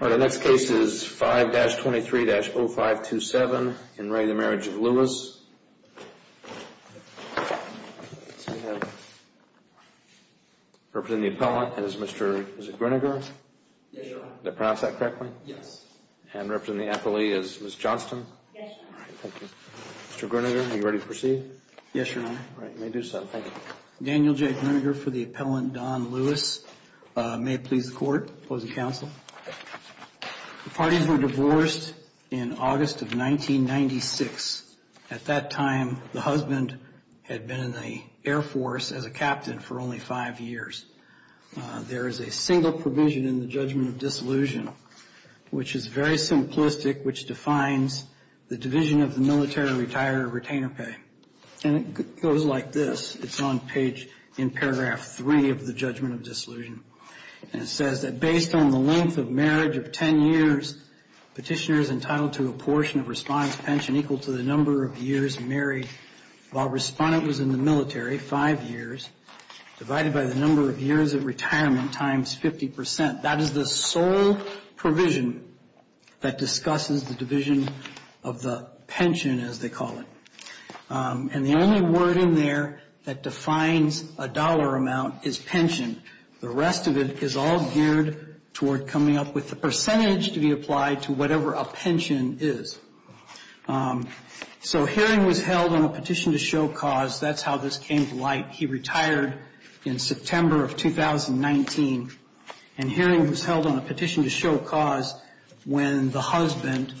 The next case is 5-23-0527, in Ray the Marriage of Lewis, representing the appellant is Mr. Grinegar. Did I pronounce that correctly? Yes. And representing the appellee is Ms. Johnston. Yes. Thank you. Mr. Grinegar, are you ready to proceed? Yes, Your Honor. All right. You may do so. Thank you. Daniel J. Grinegar for the appellant, Don Lewis. May it please the Court. Opposing counsel? The parties were divorced in August of 1996. At that time, the husband had been in the Air Force as a captain for only five years. There is a single provision in the judgment of disillusion, which is very simplistic, which defines the division of the military retiree retainer pay. And it goes like this. It's on page, in paragraph 3 of the judgment of disillusion. And it says that based on the length of marriage of 10 years, petitioner is entitled to a portion of respondent's pension equal to the number of years married while respondent was in the military, five years, divided by the number of years of retirement times 50 percent. That is the sole provision that discusses the division of the pension, as they call it. And the only word in there that defines a dollar amount is pension. The rest of it is all geared toward coming up with the percentage to be applied to whatever a pension is. So hearing was held on a petition to show cause. That's how this came to light. He retired in September of 2019. And hearing was held on a petition to show cause when the husband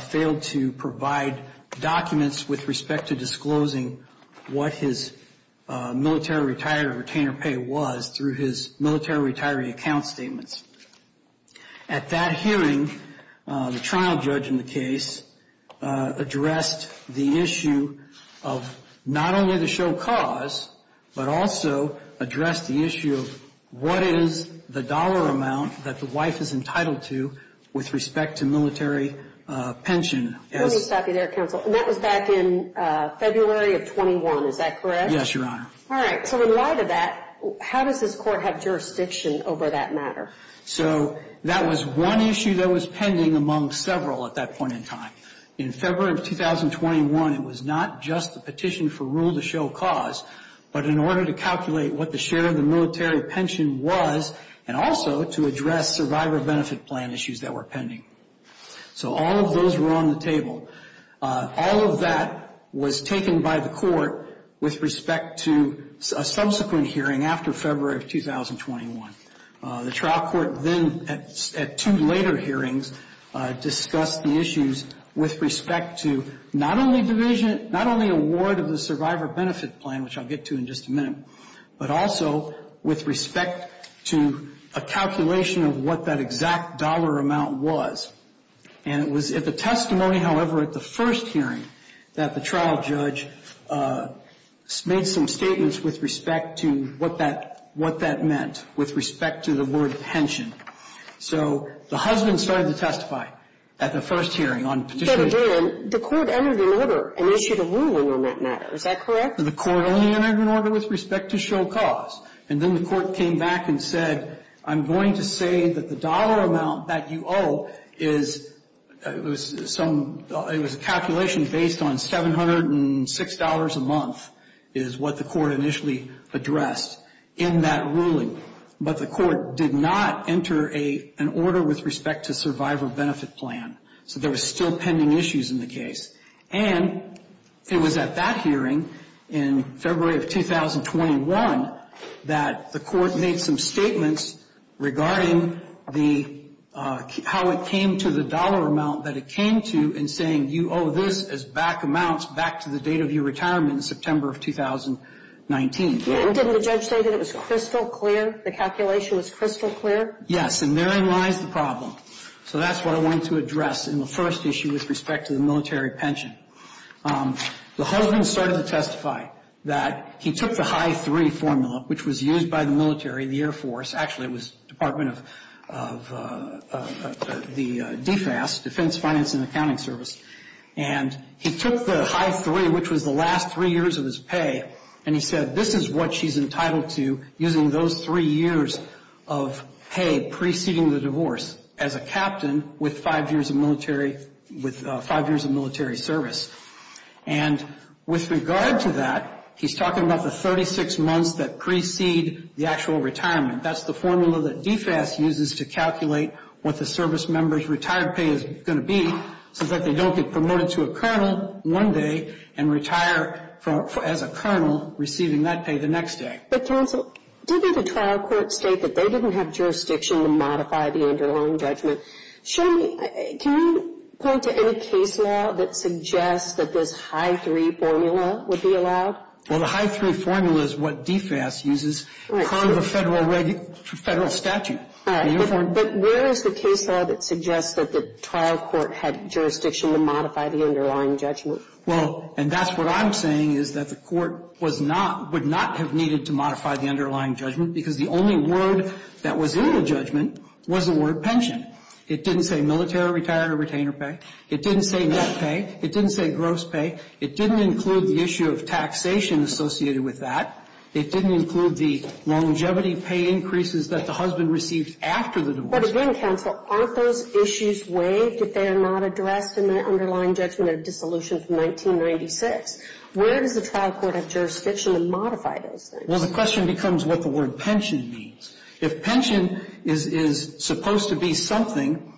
failed to provide documents with respect to disclosing what his military retiree retainer pay was through his military retiree account statements. At that hearing, the trial judge in the case addressed the issue of not only to show cause, but also addressed the issue of what is the dollar amount that the wife is entitled to with respect to military pension. Let me stop you there, counsel. And that was back in February of 21. Is that correct? Yes, Your Honor. All right. So in light of that, how does this court have jurisdiction over that matter? So that was one issue that was pending among several at that point in time. In February of 2021, it was not just the petition for rule to show cause, but in order to calculate what the share of the military pension was and also to address survivor benefit plan issues that were pending. So all of those were on the table. All of that was taken by the court with respect to a subsequent hearing after February of 2021. The trial court then at two later hearings discussed the issues with respect to not only division, not only award of the survivor benefit plan, which I'll get to in just a minute, but also with respect to a calculation of what that exact dollar amount was. And it was at the testimony, however, at the first hearing, that the trial judge made some statements with respect to what that meant with respect to the word pension. So the husband started to testify at the first hearing on petition. But again, the court entered an order and issued a ruling on that matter. Is that correct? The court only entered an order with respect to show cause. And then the court came back and said, I'm going to say that the dollar amount that you owe is some, it was a calculation based on $706 a month is what the court initially addressed in that ruling. But the court did not enter an order with respect to survivor benefit plan. So there was still pending issues in the case. And it was at that hearing in February of 2021 that the court made some statements regarding the, how it came to the dollar amount that it came to in saying, you owe this as back amounts back to the date of your retirement in September of 2019. Didn't the judge say that it was crystal clear? The calculation was crystal clear? Yes, and therein lies the problem. So that's what I wanted to address in the first issue with respect to the military pension. The husband started to testify that he took the high three formula, which was used by the military, the Air Force, actually it was Department of the DFAS, Defense Finance and Accounting Service. And he took the high three, which was the last three years of his pay, and he said this is what she's entitled to using those three years of pay preceding the divorce as a captain with five years of military service. And with regard to that, he's talking about the 36 months that precede the actual retirement. That's the formula that DFAS uses to calculate what the service member's retired pay is going to be so that they don't get promoted to a colonel one day and retire as a colonel receiving that pay the next day. But, counsel, didn't the trial court state that they didn't have jurisdiction to modify the underlying judgment? Can you point to any case law that suggests that this high three formula would be allowed? Well, the high three formula is what DFAS uses per the federal statute. All right. But where is the case law that suggests that the trial court had jurisdiction to modify the underlying judgment? Well, and that's what I'm saying, is that the court was not, would not have needed to modify the underlying judgment because the only word that was in the judgment was the word pension. It didn't say military retired or retainer pay. It didn't say net pay. It didn't say gross pay. It didn't include the issue of taxation associated with that. It didn't include the longevity pay increases that the husband received after the divorce. But again, counsel, aren't those issues waived if they are not addressed in the underlying judgment of dissolution from 1996? Where does the trial court have jurisdiction to modify those things? Well, the question becomes what the word pension means. If pension is supposed to be something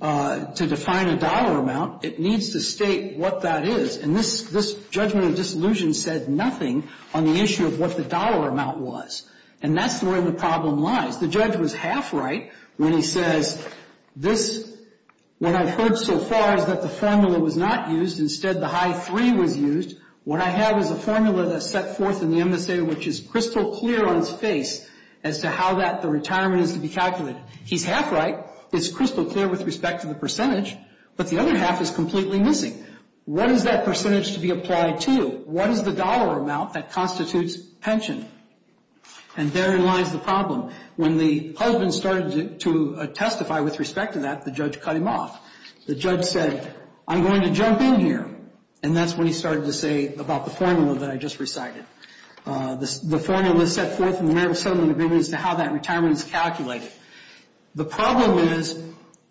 to define a dollar amount, it needs to state what that is. And this judgment of dissolution said nothing on the issue of what the dollar amount was. And that's where the problem lies. The judge was half right when he says this, what I've heard so far is that the formula was not used. Instead, the high three was used. What I have is a formula that's set forth in the MSA, which is crystal clear on its face as to how that, the retirement is to be calculated. He's half right. It's crystal clear with respect to the percentage. But the other half is completely missing. What is that percentage to be applied to? What is the dollar amount that constitutes pension? And therein lies the problem. When the husband started to testify with respect to that, the judge cut him off. The judge said, I'm going to jump in here. And that's when he started to say about the formula that I just recited. The formula was set forth in the marital settlement agreement as to how that retirement is calculated. The problem is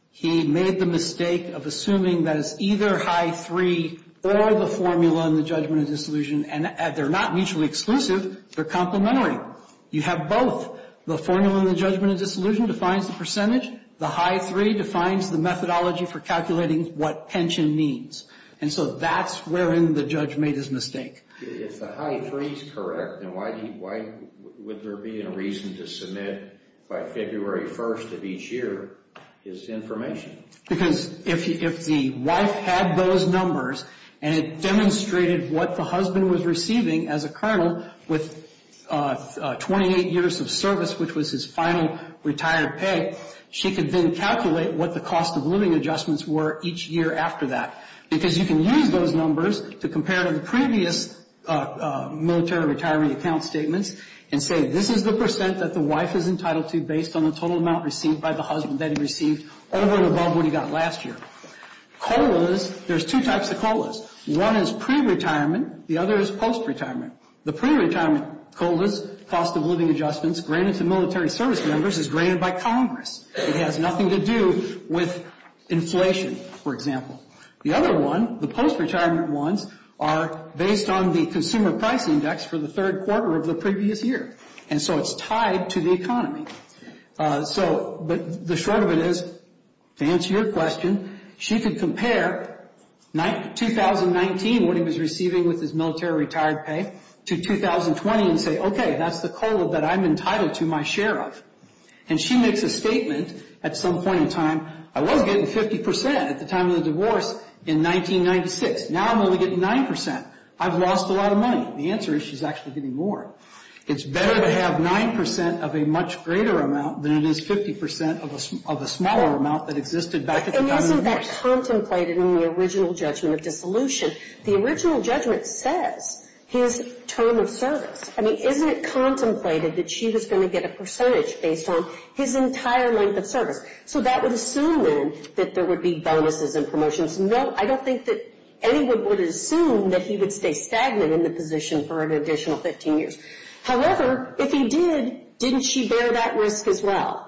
he made the mistake of assuming that it's either high three or the formula in the judgment of disillusion. And they're not mutually exclusive. They're complementary. You have both. The formula in the judgment of disillusion defines the percentage. The high three defines the methodology for calculating what pension means. And so that's wherein the judge made his mistake. If the high three is correct, then why would there be a reason to submit by February 1st of each year his information? Because if the wife had those numbers and it demonstrated what the husband was receiving as a colonel with 28 years of service, which was his final retired pay, she could then calculate what the cost of living adjustments were each year after that. Because you can use those numbers to compare to the previous military retirement account statements and say this is the percent that the wife is entitled to based on the total amount received by the husband that he received over and above what he got last year. COLAs, there's two types of COLAs. One is pre-retirement. The other is post-retirement. The pre-retirement COLAs, cost of living adjustments, granted to military service members, is granted by Congress. It has nothing to do with inflation, for example. The other one, the post-retirement ones, are based on the consumer price index for the third quarter of the previous year. And so it's tied to the economy. But the short of it is, to answer your question, she could compare 2019, what he was receiving with his military retired pay, to 2020 and say, okay, that's the COLA that I'm entitled to my share of. And she makes a statement at some point in time, I was getting 50% at the time of the divorce in 1996. Now I'm only getting 9%. I've lost a lot of money. The answer is she's actually getting more. It's better to have 9% of a much greater amount than it is 50% of a smaller amount that existed back at the time of the divorce. And isn't that contemplated in the original judgment of dissolution? The original judgment says his term of service. I mean, isn't it contemplated that she was going to get a percentage based on his entire length of service? So that would assume, then, that there would be bonuses and promotions. No, I don't think that anyone would assume that he would stay stagnant in the position for an additional 15 years. However, if he did, didn't she bear that risk as well?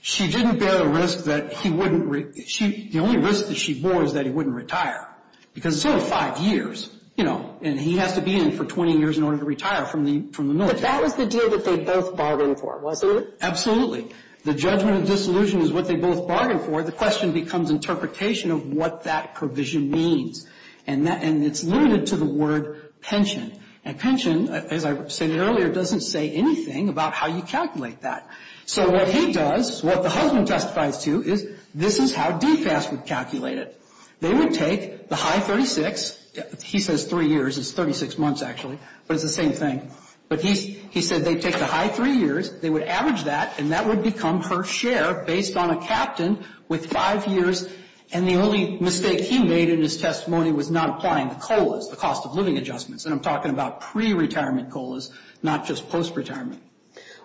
She didn't bear the risk that he wouldn't – the only risk that she bore is that he wouldn't retire. Because it's only five years, you know, and he has to be in for 20 years in order to retire from the military. But that was the deal that they both bargained for, wasn't it? Absolutely. The judgment of dissolution is what they both bargained for. The question becomes interpretation of what that provision means. And it's limited to the word pension. And pension, as I said earlier, doesn't say anything about how you calculate that. So what he does, what the husband testifies to, is this is how DFAS would calculate it. They would take the high 36. He says three years. It's 36 months, actually. But it's the same thing. But he said they'd take the high three years. They would average that, and that would become her share based on a captain with five years. And the only mistake he made in his testimony was not applying the COLAs, the cost of living adjustments. And I'm talking about pre-retirement COLAs, not just post-retirement.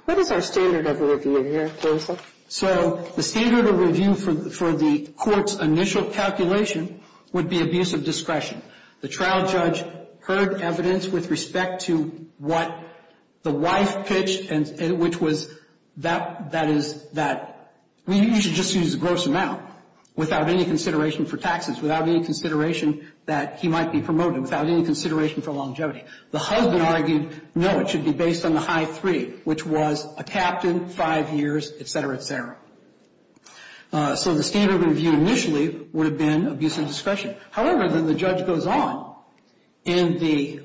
What is our standard of review here, Jameson? So the standard of review for the court's initial calculation would be abuse of discretion. The trial judge heard evidence with respect to what the wife pitched, which was that that is that we should just use a gross amount without any consideration for taxes, without any consideration that he might be promoted, without any consideration for longevity. The husband argued, no, it should be based on the high three, which was a captain, five years, et cetera, et cetera. So the standard of review initially would have been abuse of discretion. However, then the judge goes on. In the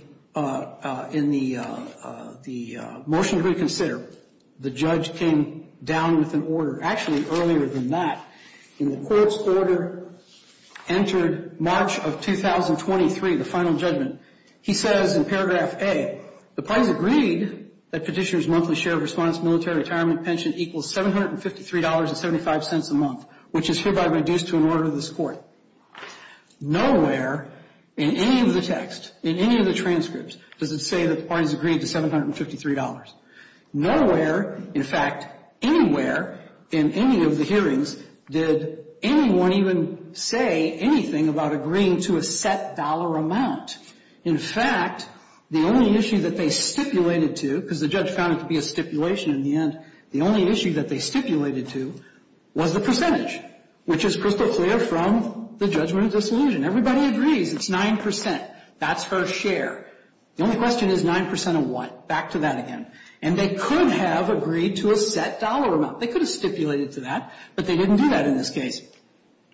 motion to reconsider, the judge came down with an order. Actually, earlier than that, in the court's order entered March of 2023, the final judgment, he says in paragraph A, the parties agreed that petitioner's monthly share of response military retirement pension equals $753.75 a month, which is hereby reduced to an order of this court. Nowhere in any of the text, in any of the transcripts does it say that the parties agreed to $753. Nowhere, in fact, anywhere in any of the hearings did anyone even say anything about agreeing to a set dollar amount. In fact, the only issue that they stipulated to, because the judge found it to be a stipulation in the end, the only issue that they stipulated to was the percentage, which is crystal clear from the judgment of disillusion. Everybody agrees it's 9%. That's her share. The only question is 9% of what? Back to that again. And they could have agreed to a set dollar amount. They could have stipulated to that, but they didn't do that in this case.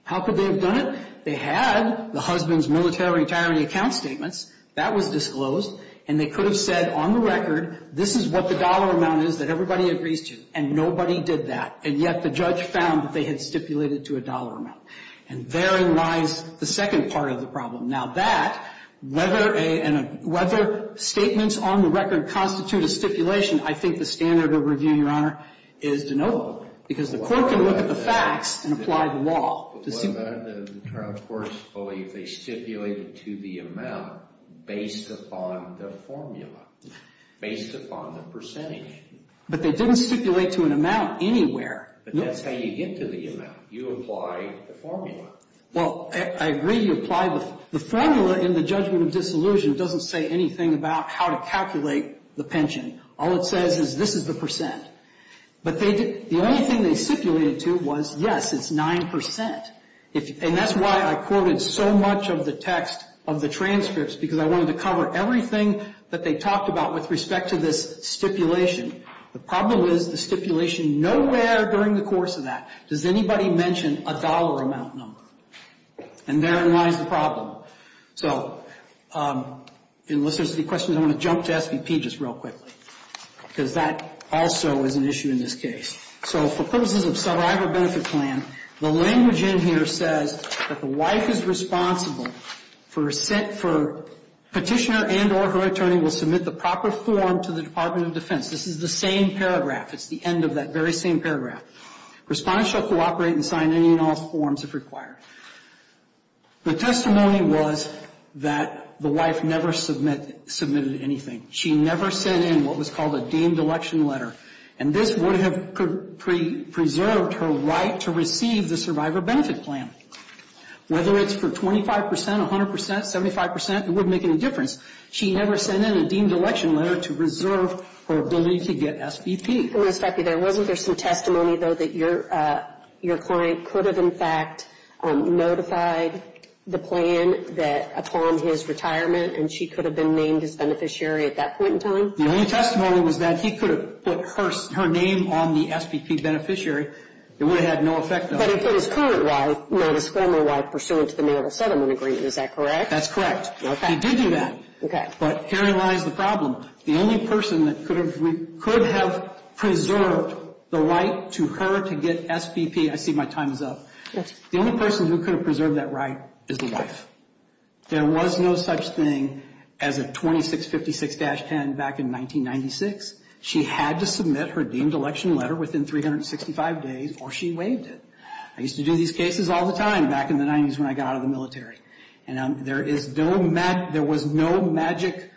How could they have done it? They had the husband's military retirement account statements. That was disclosed. And they could have said on the record, this is what the dollar amount is that everybody agrees to. And nobody did that. And yet the judge found that they had stipulated to a dollar amount. And therein lies the second part of the problem. Now, that, whether a — whether statements on the record constitute a stipulation, I think the standard of review, Your Honor, is denotable, because the court can look at the facts and apply the law. The trial courts believe they stipulated to the amount based upon the formula, based upon the percentage. But they didn't stipulate to an amount anywhere. But that's how you get to the amount. You apply the formula. Well, I agree you apply the — the formula in the judgment of disillusion doesn't say anything about how to calculate the pension. All it says is this is the percent. But the only thing they stipulated to was, yes, it's 9 percent. And that's why I quoted so much of the text of the transcripts, because I wanted to cover everything that they talked about with respect to this stipulation. The problem is the stipulation nowhere during the course of that does anybody mention a dollar amount number. And therein lies the problem. So unless there's any questions, I'm going to jump to SVP just real quickly, because that also is an issue in this case. So for purposes of survivor benefit plan, the language in here says that the wife is responsible for petitioner and or her attorney will submit the proper form to the Department of Defense. This is the same paragraph. It's the end of that very same paragraph. Respondents shall cooperate and sign any and all forms if required. The testimony was that the wife never submitted anything. She never sent in what was called a deemed election letter. And this would have preserved her right to receive the survivor benefit plan. Whether it's for 25 percent, 100 percent, 75 percent, it wouldn't make any difference. She never sent in a deemed election letter to reserve her ability to get SVP. I want to stop you there. Wasn't there some testimony, though, that your client could have, in fact, notified the plan that upon his retirement and she could have been named as beneficiary at that point in time? The only testimony was that he could have put her name on the SVP beneficiary. It would have had no effect on her. But if it was current wife, not his former wife, pursuant to the Naval Settlement Agreement, is that correct? That's correct. He did do that. Okay. But herein lies the problem. The only person that could have preserved the right to her to get SVP, I see my time is up. The only person who could have preserved that right is the wife. There was no such thing as a 2656-10 back in 1996. She had to submit her deemed election letter within 365 days or she waived it. I used to do these cases all the time back in the 90s when I got out of the military. There was no magic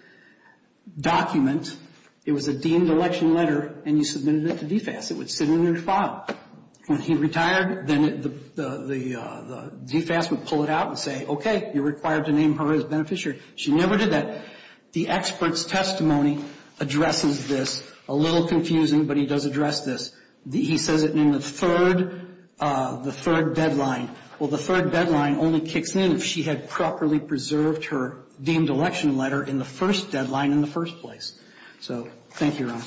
document. It was a deemed election letter, and you submitted it to DFAS. It would sit in your file. When he retired, then the DFAS would pull it out and say, okay, you're required to name her as beneficiary. She never did that. The expert's testimony addresses this. A little confusing, but he does address this. He says it in the third deadline. Well, the third deadline only kicks in if she had properly preserved her deemed election letter in the first deadline in the first place. So, thank you, Ron.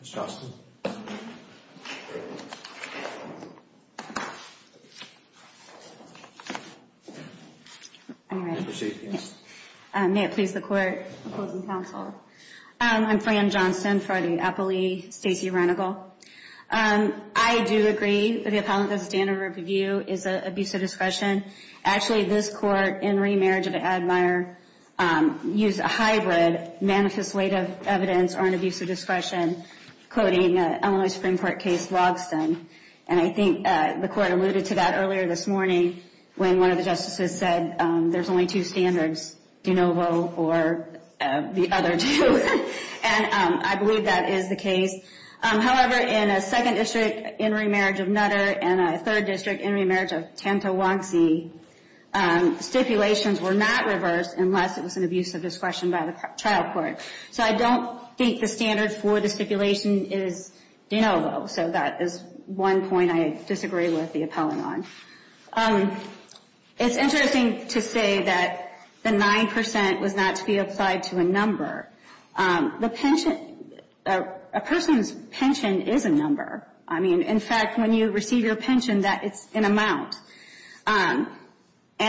Ms. Johnston? I'm ready. May it please the Court, opposing counsel. I'm Fran Johnston for the appellee, Stacey Renegal. I do agree that the appellant has a standard of review, is an abuse of discretion. Actually, this Court, in remarriage of an admirer, used a hybrid, manifest weight of evidence or an abuse of discretion, quoting Illinois Supreme Court case Lobson. And I think the Court alluded to that earlier this morning when one of the justices said there's only two standards, de novo or the other two. And I believe that is the case. However, in a second district in remarriage of Nutter and a third district in remarriage of Tantawangsi, stipulations were not reversed unless it was an abuse of discretion by the trial court. So I don't think the standard for the stipulation is de novo. So that is one point I disagree with the appellant on. It's interesting to say that the 9% was not to be applied to a number. A person's pension is a number. I mean, in fact, when you receive your pension, that is an amount. And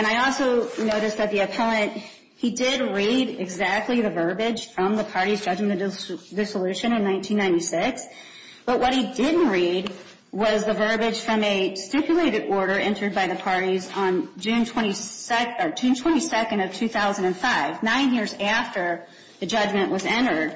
I also noticed that the appellant, he did read exactly the verbiage from the parties judging the dissolution in 1996. But what he didn't read was the verbiage from a stipulated order entered by the parties on June 22nd of 2005, nine years after the judgment was entered.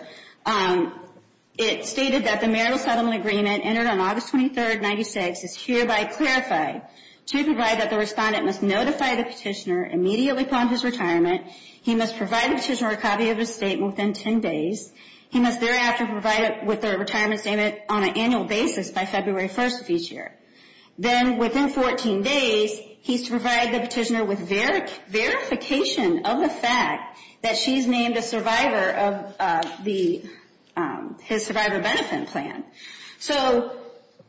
It stated that the marital settlement agreement entered on August 23rd, 1996, is hereby clarified to provide that the respondent must notify the petitioner immediately upon his retirement. He must provide the petitioner a copy of his statement within 10 days. He must thereafter provide it with their retirement statement on an annual basis by February 1st of each year. Then within 14 days, he's to provide the petitioner with verification of the fact that she's named a survivor of his survivor benefit plan. So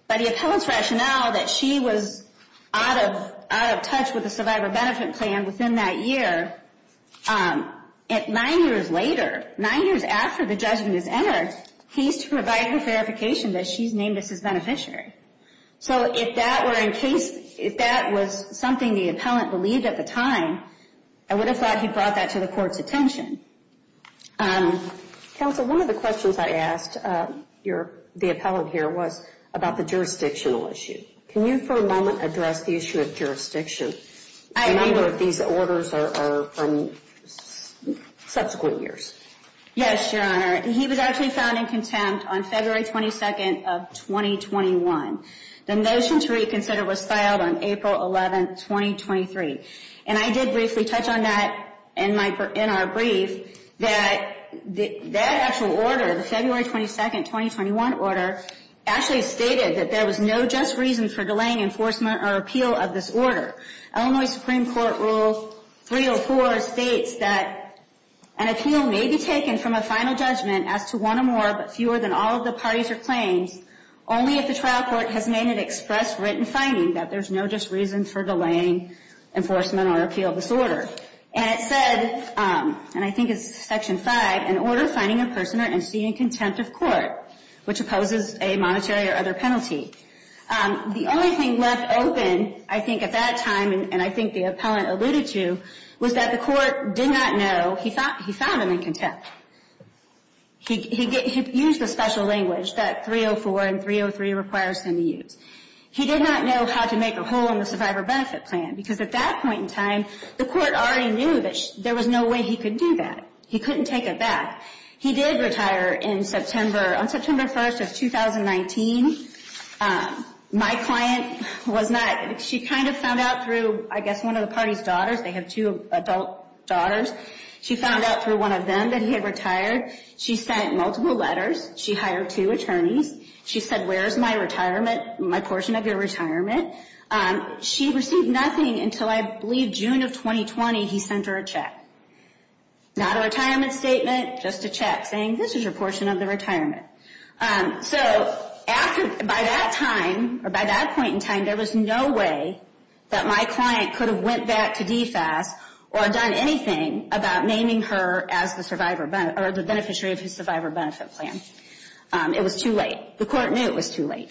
by the appellant's rationale that she was out of touch with the survivor benefit plan within that year, nine years later, nine years after the judgment is entered, he's to provide her verification that she's named as his beneficiary. So if that were in case, if that was something the appellant believed at the time, I would have thought he brought that to the court's attention. Counsel, one of the questions I asked the appellant here was about the jurisdictional issue. Can you for a moment address the issue of jurisdiction? I don't know if these orders are from subsequent years. Yes, Your Honor. He was actually found in contempt on February 22nd of 2021. The notion to reconsider was filed on April 11th, 2023. And I did briefly touch on that in our brief that that actual order, the February 22nd, 2021 order, actually stated that there was no just reason for delaying enforcement or appeal of this order. Illinois Supreme Court Rule 304 states that an appeal may be taken from a final judgment as to one or more, but fewer than all of the parties or claims, only if the trial court has made an express written finding that there's no just reason for delaying enforcement or appeal of this order. And it said, and I think it's Section 5, an order finding a person or entity in contempt of court, which opposes a monetary or other penalty. The only thing left open, I think, at that time, and I think the appellant alluded to, was that the court did not know he found him in contempt. He used the special language that 304 and 303 requires him to use. He did not know how to make a hole in the survivor benefit plan, because at that point in time, the court already knew that there was no way he could do that. He couldn't take it back. He did retire in September, on September 1st of 2019. My client was not, she kind of found out through, I guess, one of the party's daughters. They have two adult daughters. She found out through one of them that he had retired. She sent multiple letters. She hired two attorneys. She said, where's my retirement, my portion of your retirement? She received nothing until, I believe, June of 2020, he sent her a check. Not a retirement statement, just a check saying, this is your portion of the retirement. So by that time, or by that point in time, there was no way that my client could have went back to DFAS or done anything about naming her as the beneficiary of his survivor benefit plan. It was too late. The court knew it was too late.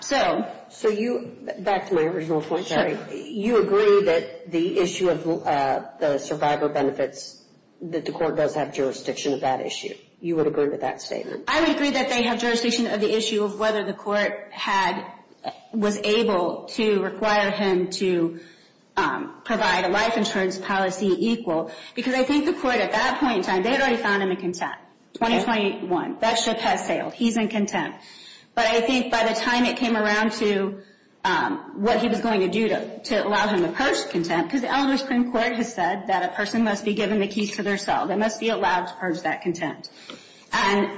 So you, back to my original point, sorry. You agree that the issue of the survivor benefits, that the court does have jurisdiction of that issue? You would agree with that statement? I would agree that they have jurisdiction of the issue of whether the court had, was able to require him to provide a life insurance policy equal. Because I think the court, at that point in time, they had already found him in contempt. 2021, that ship has sailed. He's in contempt. But I think by the time it came around to what he was going to do to allow him to purge contempt, because the Eleanor Supreme Court has said that a person must be given the keys to their cell. They must be allowed to purge that contempt. And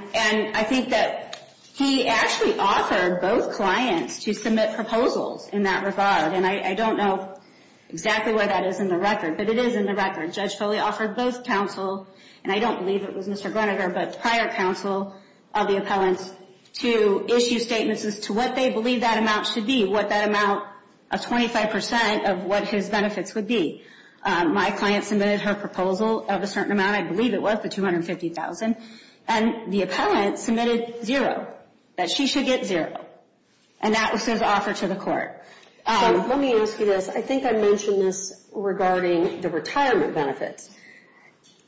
I think that he actually offered both clients to submit proposals in that regard. And I don't know exactly where that is in the record, but it is in the record. Judge Foley offered both counsel, and I don't believe it was Mr. Groninger, but prior counsel of the appellants to issue statements as to what they believe that amount should be, what that amount of 25% of what his benefits would be. My client submitted her proposal of a certain amount. I believe it was the $250,000. And the appellant submitted zero, that she should get zero. And that was his offer to the court. Let me ask you this. I think I mentioned this regarding the retirement benefits.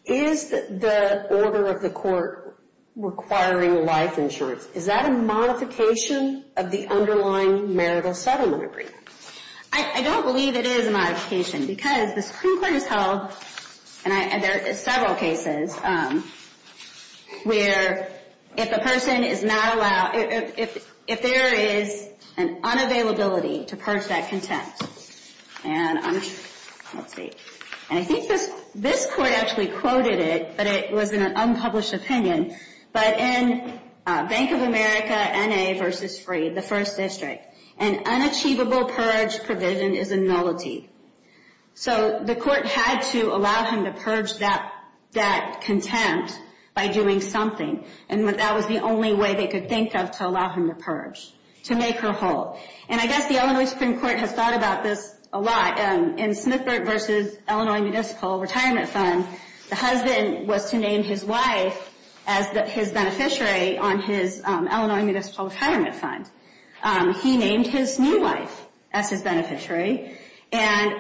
Is the order of the court requiring life insurance, is that a modification of the underlying marital settlement agreement? I don't believe it is a modification, because the Supreme Court has held, and there are several cases where if a person is not allowed, if there is an unavailability to purge that contempt, and I think this court actually quoted it, but it was in an unpublished opinion, but in Bank of America, N.A. v. Free, the first district, an unachievable purge provision is a nullity. So the court had to allow him to purge that contempt by doing something, and that was the only way they could think of to allow him to purge, to make her whole. And I guess the Illinois Supreme Court has thought about this a lot. In Smithburg v. Illinois Municipal Retirement Fund, the husband was to name his wife as his beneficiary on his Illinois Municipal Retirement Fund. He named his new wife as his beneficiary, and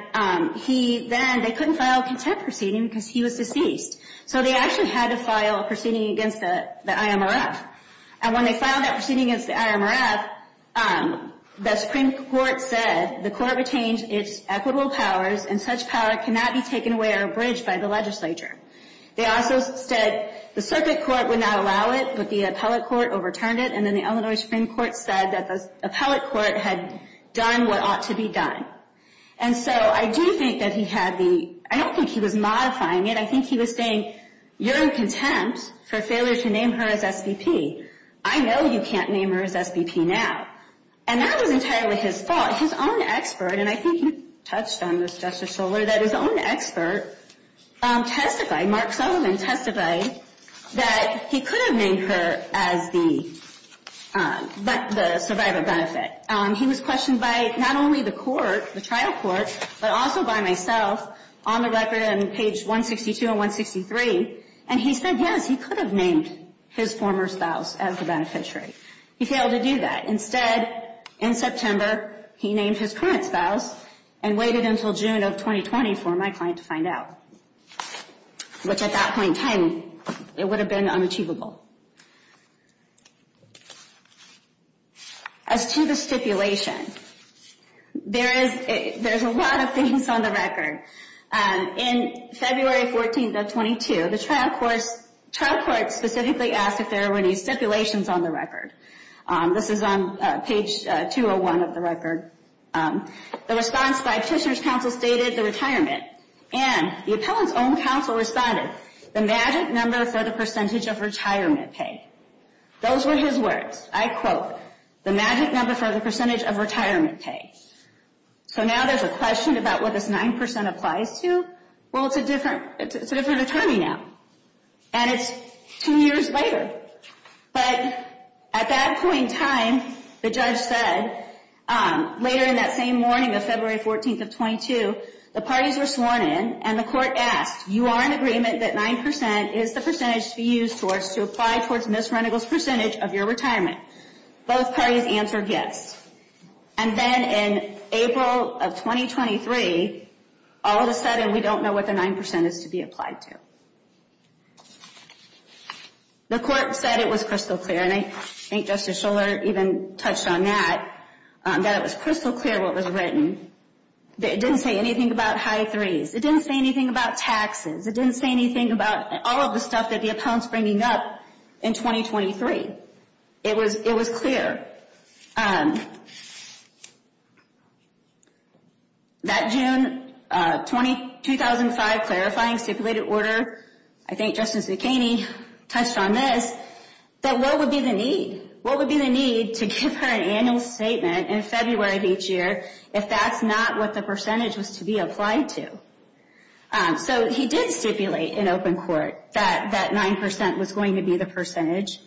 then they couldn't file a contempt proceeding because he was deceased. So they actually had to file a proceeding against the IMRF. And when they filed that proceeding against the IMRF, the Supreme Court said the court retained its equitable powers, and such power cannot be taken away or abridged by the legislature. They also said the circuit court would not allow it, but the appellate court overturned it, and then the Illinois Supreme Court said that the appellate court had done what ought to be done. And so I do think that he had the—I don't think he was modifying it. I think he was saying, you're in contempt for failure to name her as SVP. I know you can't name her as SVP now. And that was entirely his fault. His own expert, and I think you touched on this, Justice Shuler, that his own expert testified, Mark Sullivan testified, that he could have named her as the survivor benefit. He was questioned by not only the court, the trial court, but also by myself on the record on page 162 and 163, and he said, yes, he could have named his former spouse as the beneficiary. He failed to do that. Instead, in September, he named his current spouse and waited until June of 2020 for my client to find out, which at that point in time, it would have been unachievable. As to the stipulation, there's a lot of things on the record. In February 14th of 22, the trial court specifically asked if there were any stipulations on the record. This is on page 201 of the record. The response by Tishner's counsel stated the retirement, and the appellant's own counsel responded, the magic number for the percentage of retirement pay. Those were his words. I quote, the magic number for the percentage of retirement pay. So now there's a question about what this 9% applies to. Well, it's a different attorney now, and it's two years later. But at that point in time, the judge said, later in that same morning of February 14th of 22, the parties were sworn in, and the court asked, you are in agreement that 9% is the percentage to be used towards to apply towards Ms. Renegol's percentage of your retirement. Both parties answered yes. And then in April of 2023, all of a sudden, we don't know what the 9% is to be applied to. The court said it was crystal clear, and I think Justice Shuler even touched on that, that it was crystal clear what was written. It didn't say anything about high threes. It didn't say anything about taxes. It didn't say anything about all of the stuff that the appellant's bringing up in 2023. It was clear. That June 2005 clarifying stipulated order, I think Justice McHaney touched on this, that what would be the need? What would be the need to give her an annual statement in February of each year if that's not what the percentage was to be applied to? So he did stipulate in open court that that 9% was going to be the percentage.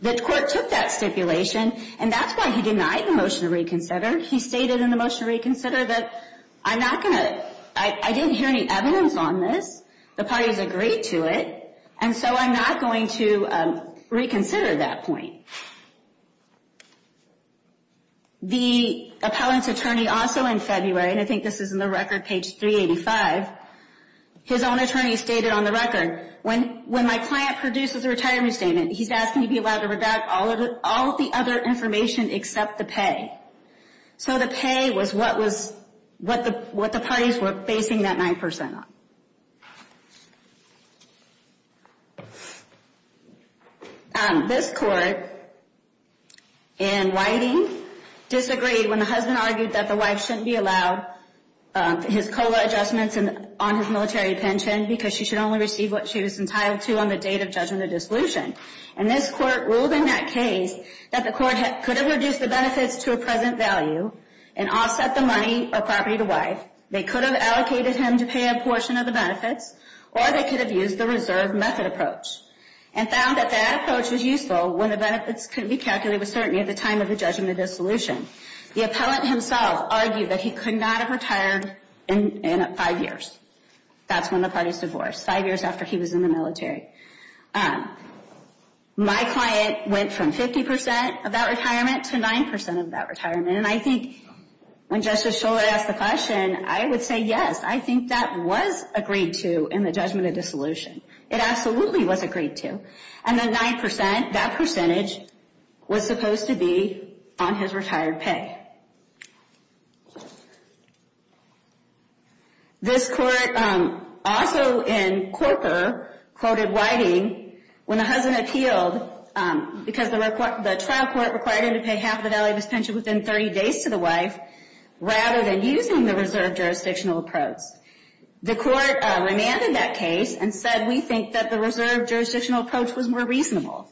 The court took that stipulation, and that's why he denied the motion to reconsider. He stated in the motion to reconsider that I'm not going to, I didn't hear any evidence on this. The parties agreed to it, and so I'm not going to reconsider that point. The appellant's attorney also in February, and I think this is in the record, page 385, his own attorney stated on the record, when my client produces a retirement statement, he's asking to be allowed to redact all of the other information except the pay. So the pay was what the parties were basing that 9% on. This court in Whiting disagreed when the husband argued that the wife shouldn't be allowed his COLA adjustments on his military pension because she should only receive what she was entitled to on the date of judgment of And this court ruled in that case that the court could have reduced the benefits to a present value and offset the money or property to wife. They could have allocated him to pay a portion of the benefits, or they could have used the reserve method approach and found that that approach was useful when the benefits could be calculated with certainty at the time of the judgment of dissolution. The appellant himself argued that he could not have retired in five years. That's when the parties divorced, five years after he was in the military. My client went from 50% of that retirement to 9% of that retirement, and I think when Justice Shuler asked the question, I would say yes. I think that was agreed to in the judgment of dissolution. It absolutely was agreed to. And then 9%, that percentage, was supposed to be on his retired pay. This court also in Corker quoted Whiting when the husband appealed because the trial court required him to pay half the value of his pension within 30 days to the wife rather than using the reserve jurisdictional approach. The court remanded that case and said, we think that the reserve jurisdictional approach was more reasonable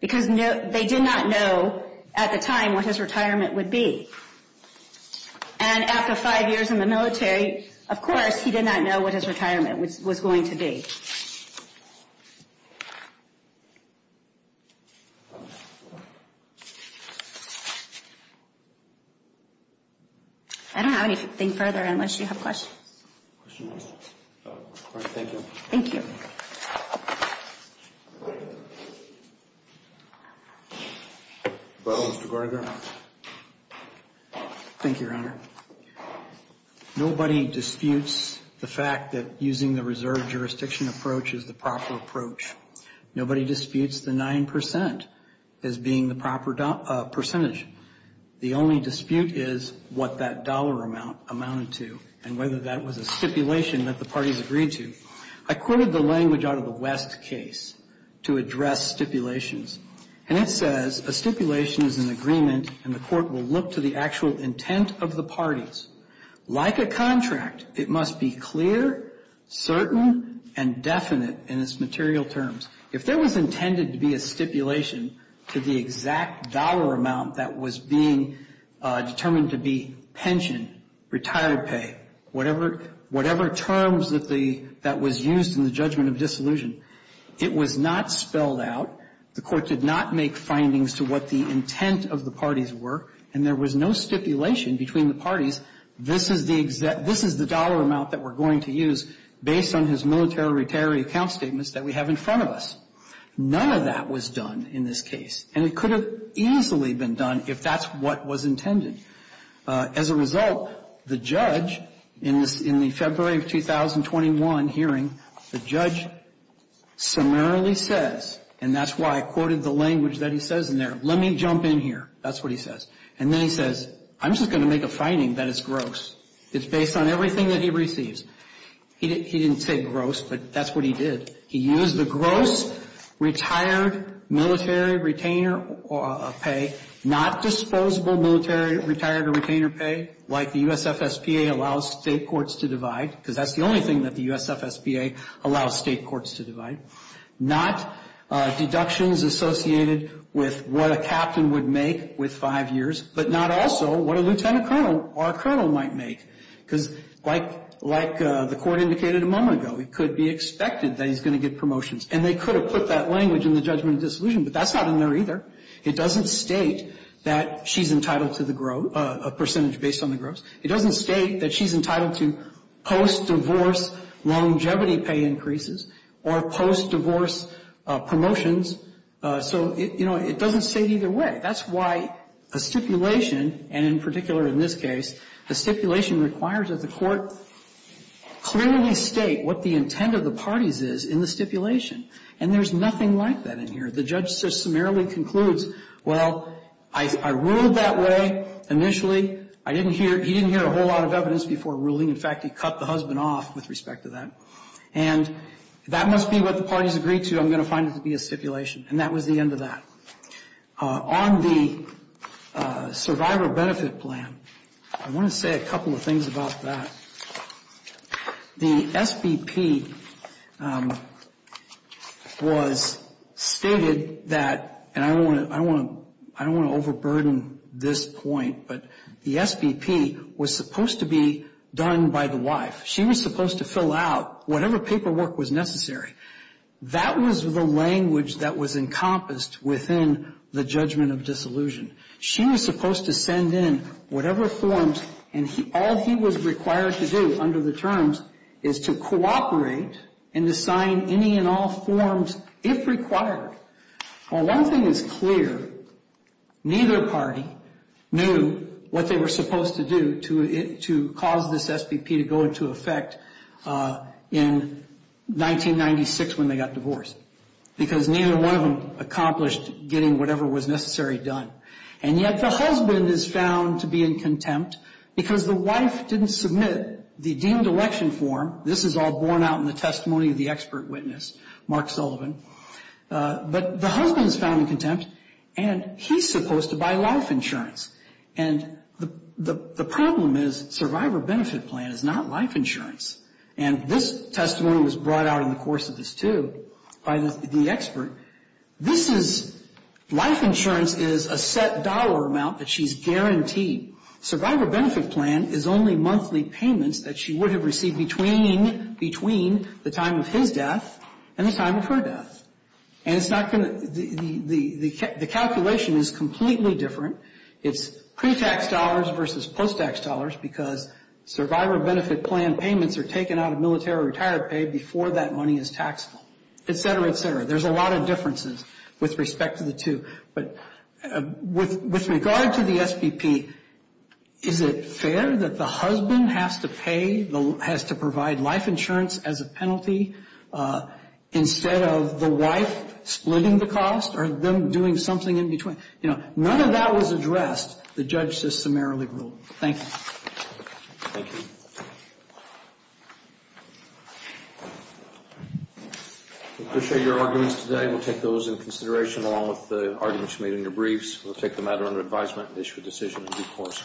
because they did not know at the time what his retirement would be. And after five years in the military, of course, he did not know what his retirement was going to be. I don't have anything further unless you have questions. Questions? All right. Thank you. Thank you. Mr. Garga. Thank you, Your Honor. Nobody disputes the fact that using the reserve jurisdiction approach is the proper approach. Nobody disputes the 9%. As being the proper percentage. The only dispute is what that dollar amount amounted to and whether that was a stipulation that the parties agreed to. I quoted the language out of the West case to address stipulations. And it says, a stipulation is an agreement, and the court will look to the actual intent of the parties. Like a contract, it must be clear, certain, and definite in its material terms. If there was intended to be a stipulation to the exact dollar amount that was being determined to be pension, retired pay, whatever terms that was used in the judgment of dissolution, it was not spelled out. The court did not make findings to what the intent of the parties were, and there was no stipulation between the parties, this is the dollar amount that we're going to use based on his military retirement account statements that we have in front of us. None of that was done in this case. And it could have easily been done if that's what was intended. As a result, the judge in the February of 2021 hearing, the judge summarily says, and that's why I quoted the language that he says in there, let me jump in here. That's what he says. And then he says, I'm just going to make a finding that is gross. It's based on everything that he receives. He didn't say gross, but that's what he did. He used the gross retired military retainer pay, not disposable military retired retainer pay, like the USFSPA allows state courts to divide, because that's the only thing that the USFSPA allows state courts to divide. Not deductions associated with what a captain would make with five years, but not also what a lieutenant colonel or a colonel might make. Because like the court indicated a moment ago, it could be expected that he's going to get promotions. And they could have put that language in the judgment of dissolution, but that's not in there either. It doesn't state that she's entitled to a percentage based on the gross. It doesn't state that she's entitled to post-divorce longevity pay increases or post-divorce promotions. So, you know, it doesn't state either way. That's why a stipulation, and in particular in this case, a stipulation requires that the court clearly state what the intent of the parties is in the stipulation. And there's nothing like that in here. The judge just summarily concludes, well, I ruled that way initially. I didn't hear he didn't hear a whole lot of evidence before ruling. In fact, he cut the husband off with respect to that. And that must be what the parties agreed to. I'm going to find it to be a stipulation. And that was the end of that. On the survivor benefit plan, I want to say a couple of things about that. The SBP was stated that, and I don't want to overburden this point, but the SBP was supposed to be done by the wife. She was supposed to fill out whatever paperwork was necessary. That was the language that was encompassed within the judgment of disillusion. She was supposed to send in whatever forms, and all he was required to do under the terms is to cooperate and to sign any and all forms if required. Well, one thing is clear, neither party knew what they were supposed to do to cause this SBP to go into effect in 1996 when they got divorced. Because neither one of them accomplished getting whatever was necessary done. And yet the husband is found to be in contempt because the wife didn't submit the deemed election form. This is all borne out in the testimony of the expert witness, Mark Sullivan. But the husband is found in contempt, and he's supposed to buy life insurance. And the problem is Survivor Benefit Plan is not life insurance. And this testimony was brought out in the course of this, too, by the expert. This is, life insurance is a set dollar amount that she's guaranteed. Survivor Benefit Plan is only monthly payments that she would have received between the time of his death and the time of her death. And it's not going to, the calculation is completely different. It's pre-tax dollars versus post-tax dollars because Survivor Benefit Plan payments are taken out of military retired pay before that money is taxable, et cetera, et cetera. There's a lot of differences with respect to the two. But with regard to the SBP, is it fair that the husband has to pay, has to provide life insurance as a penalty instead of the wife splitting the cost or them doing something in between? You know, none of that was addressed. The judge just summarily ruled. Thank you. Thank you. We appreciate your arguments today. We'll take those into consideration along with the arguments you made in your briefs. We'll take the matter under advisement and issue a decision in due course.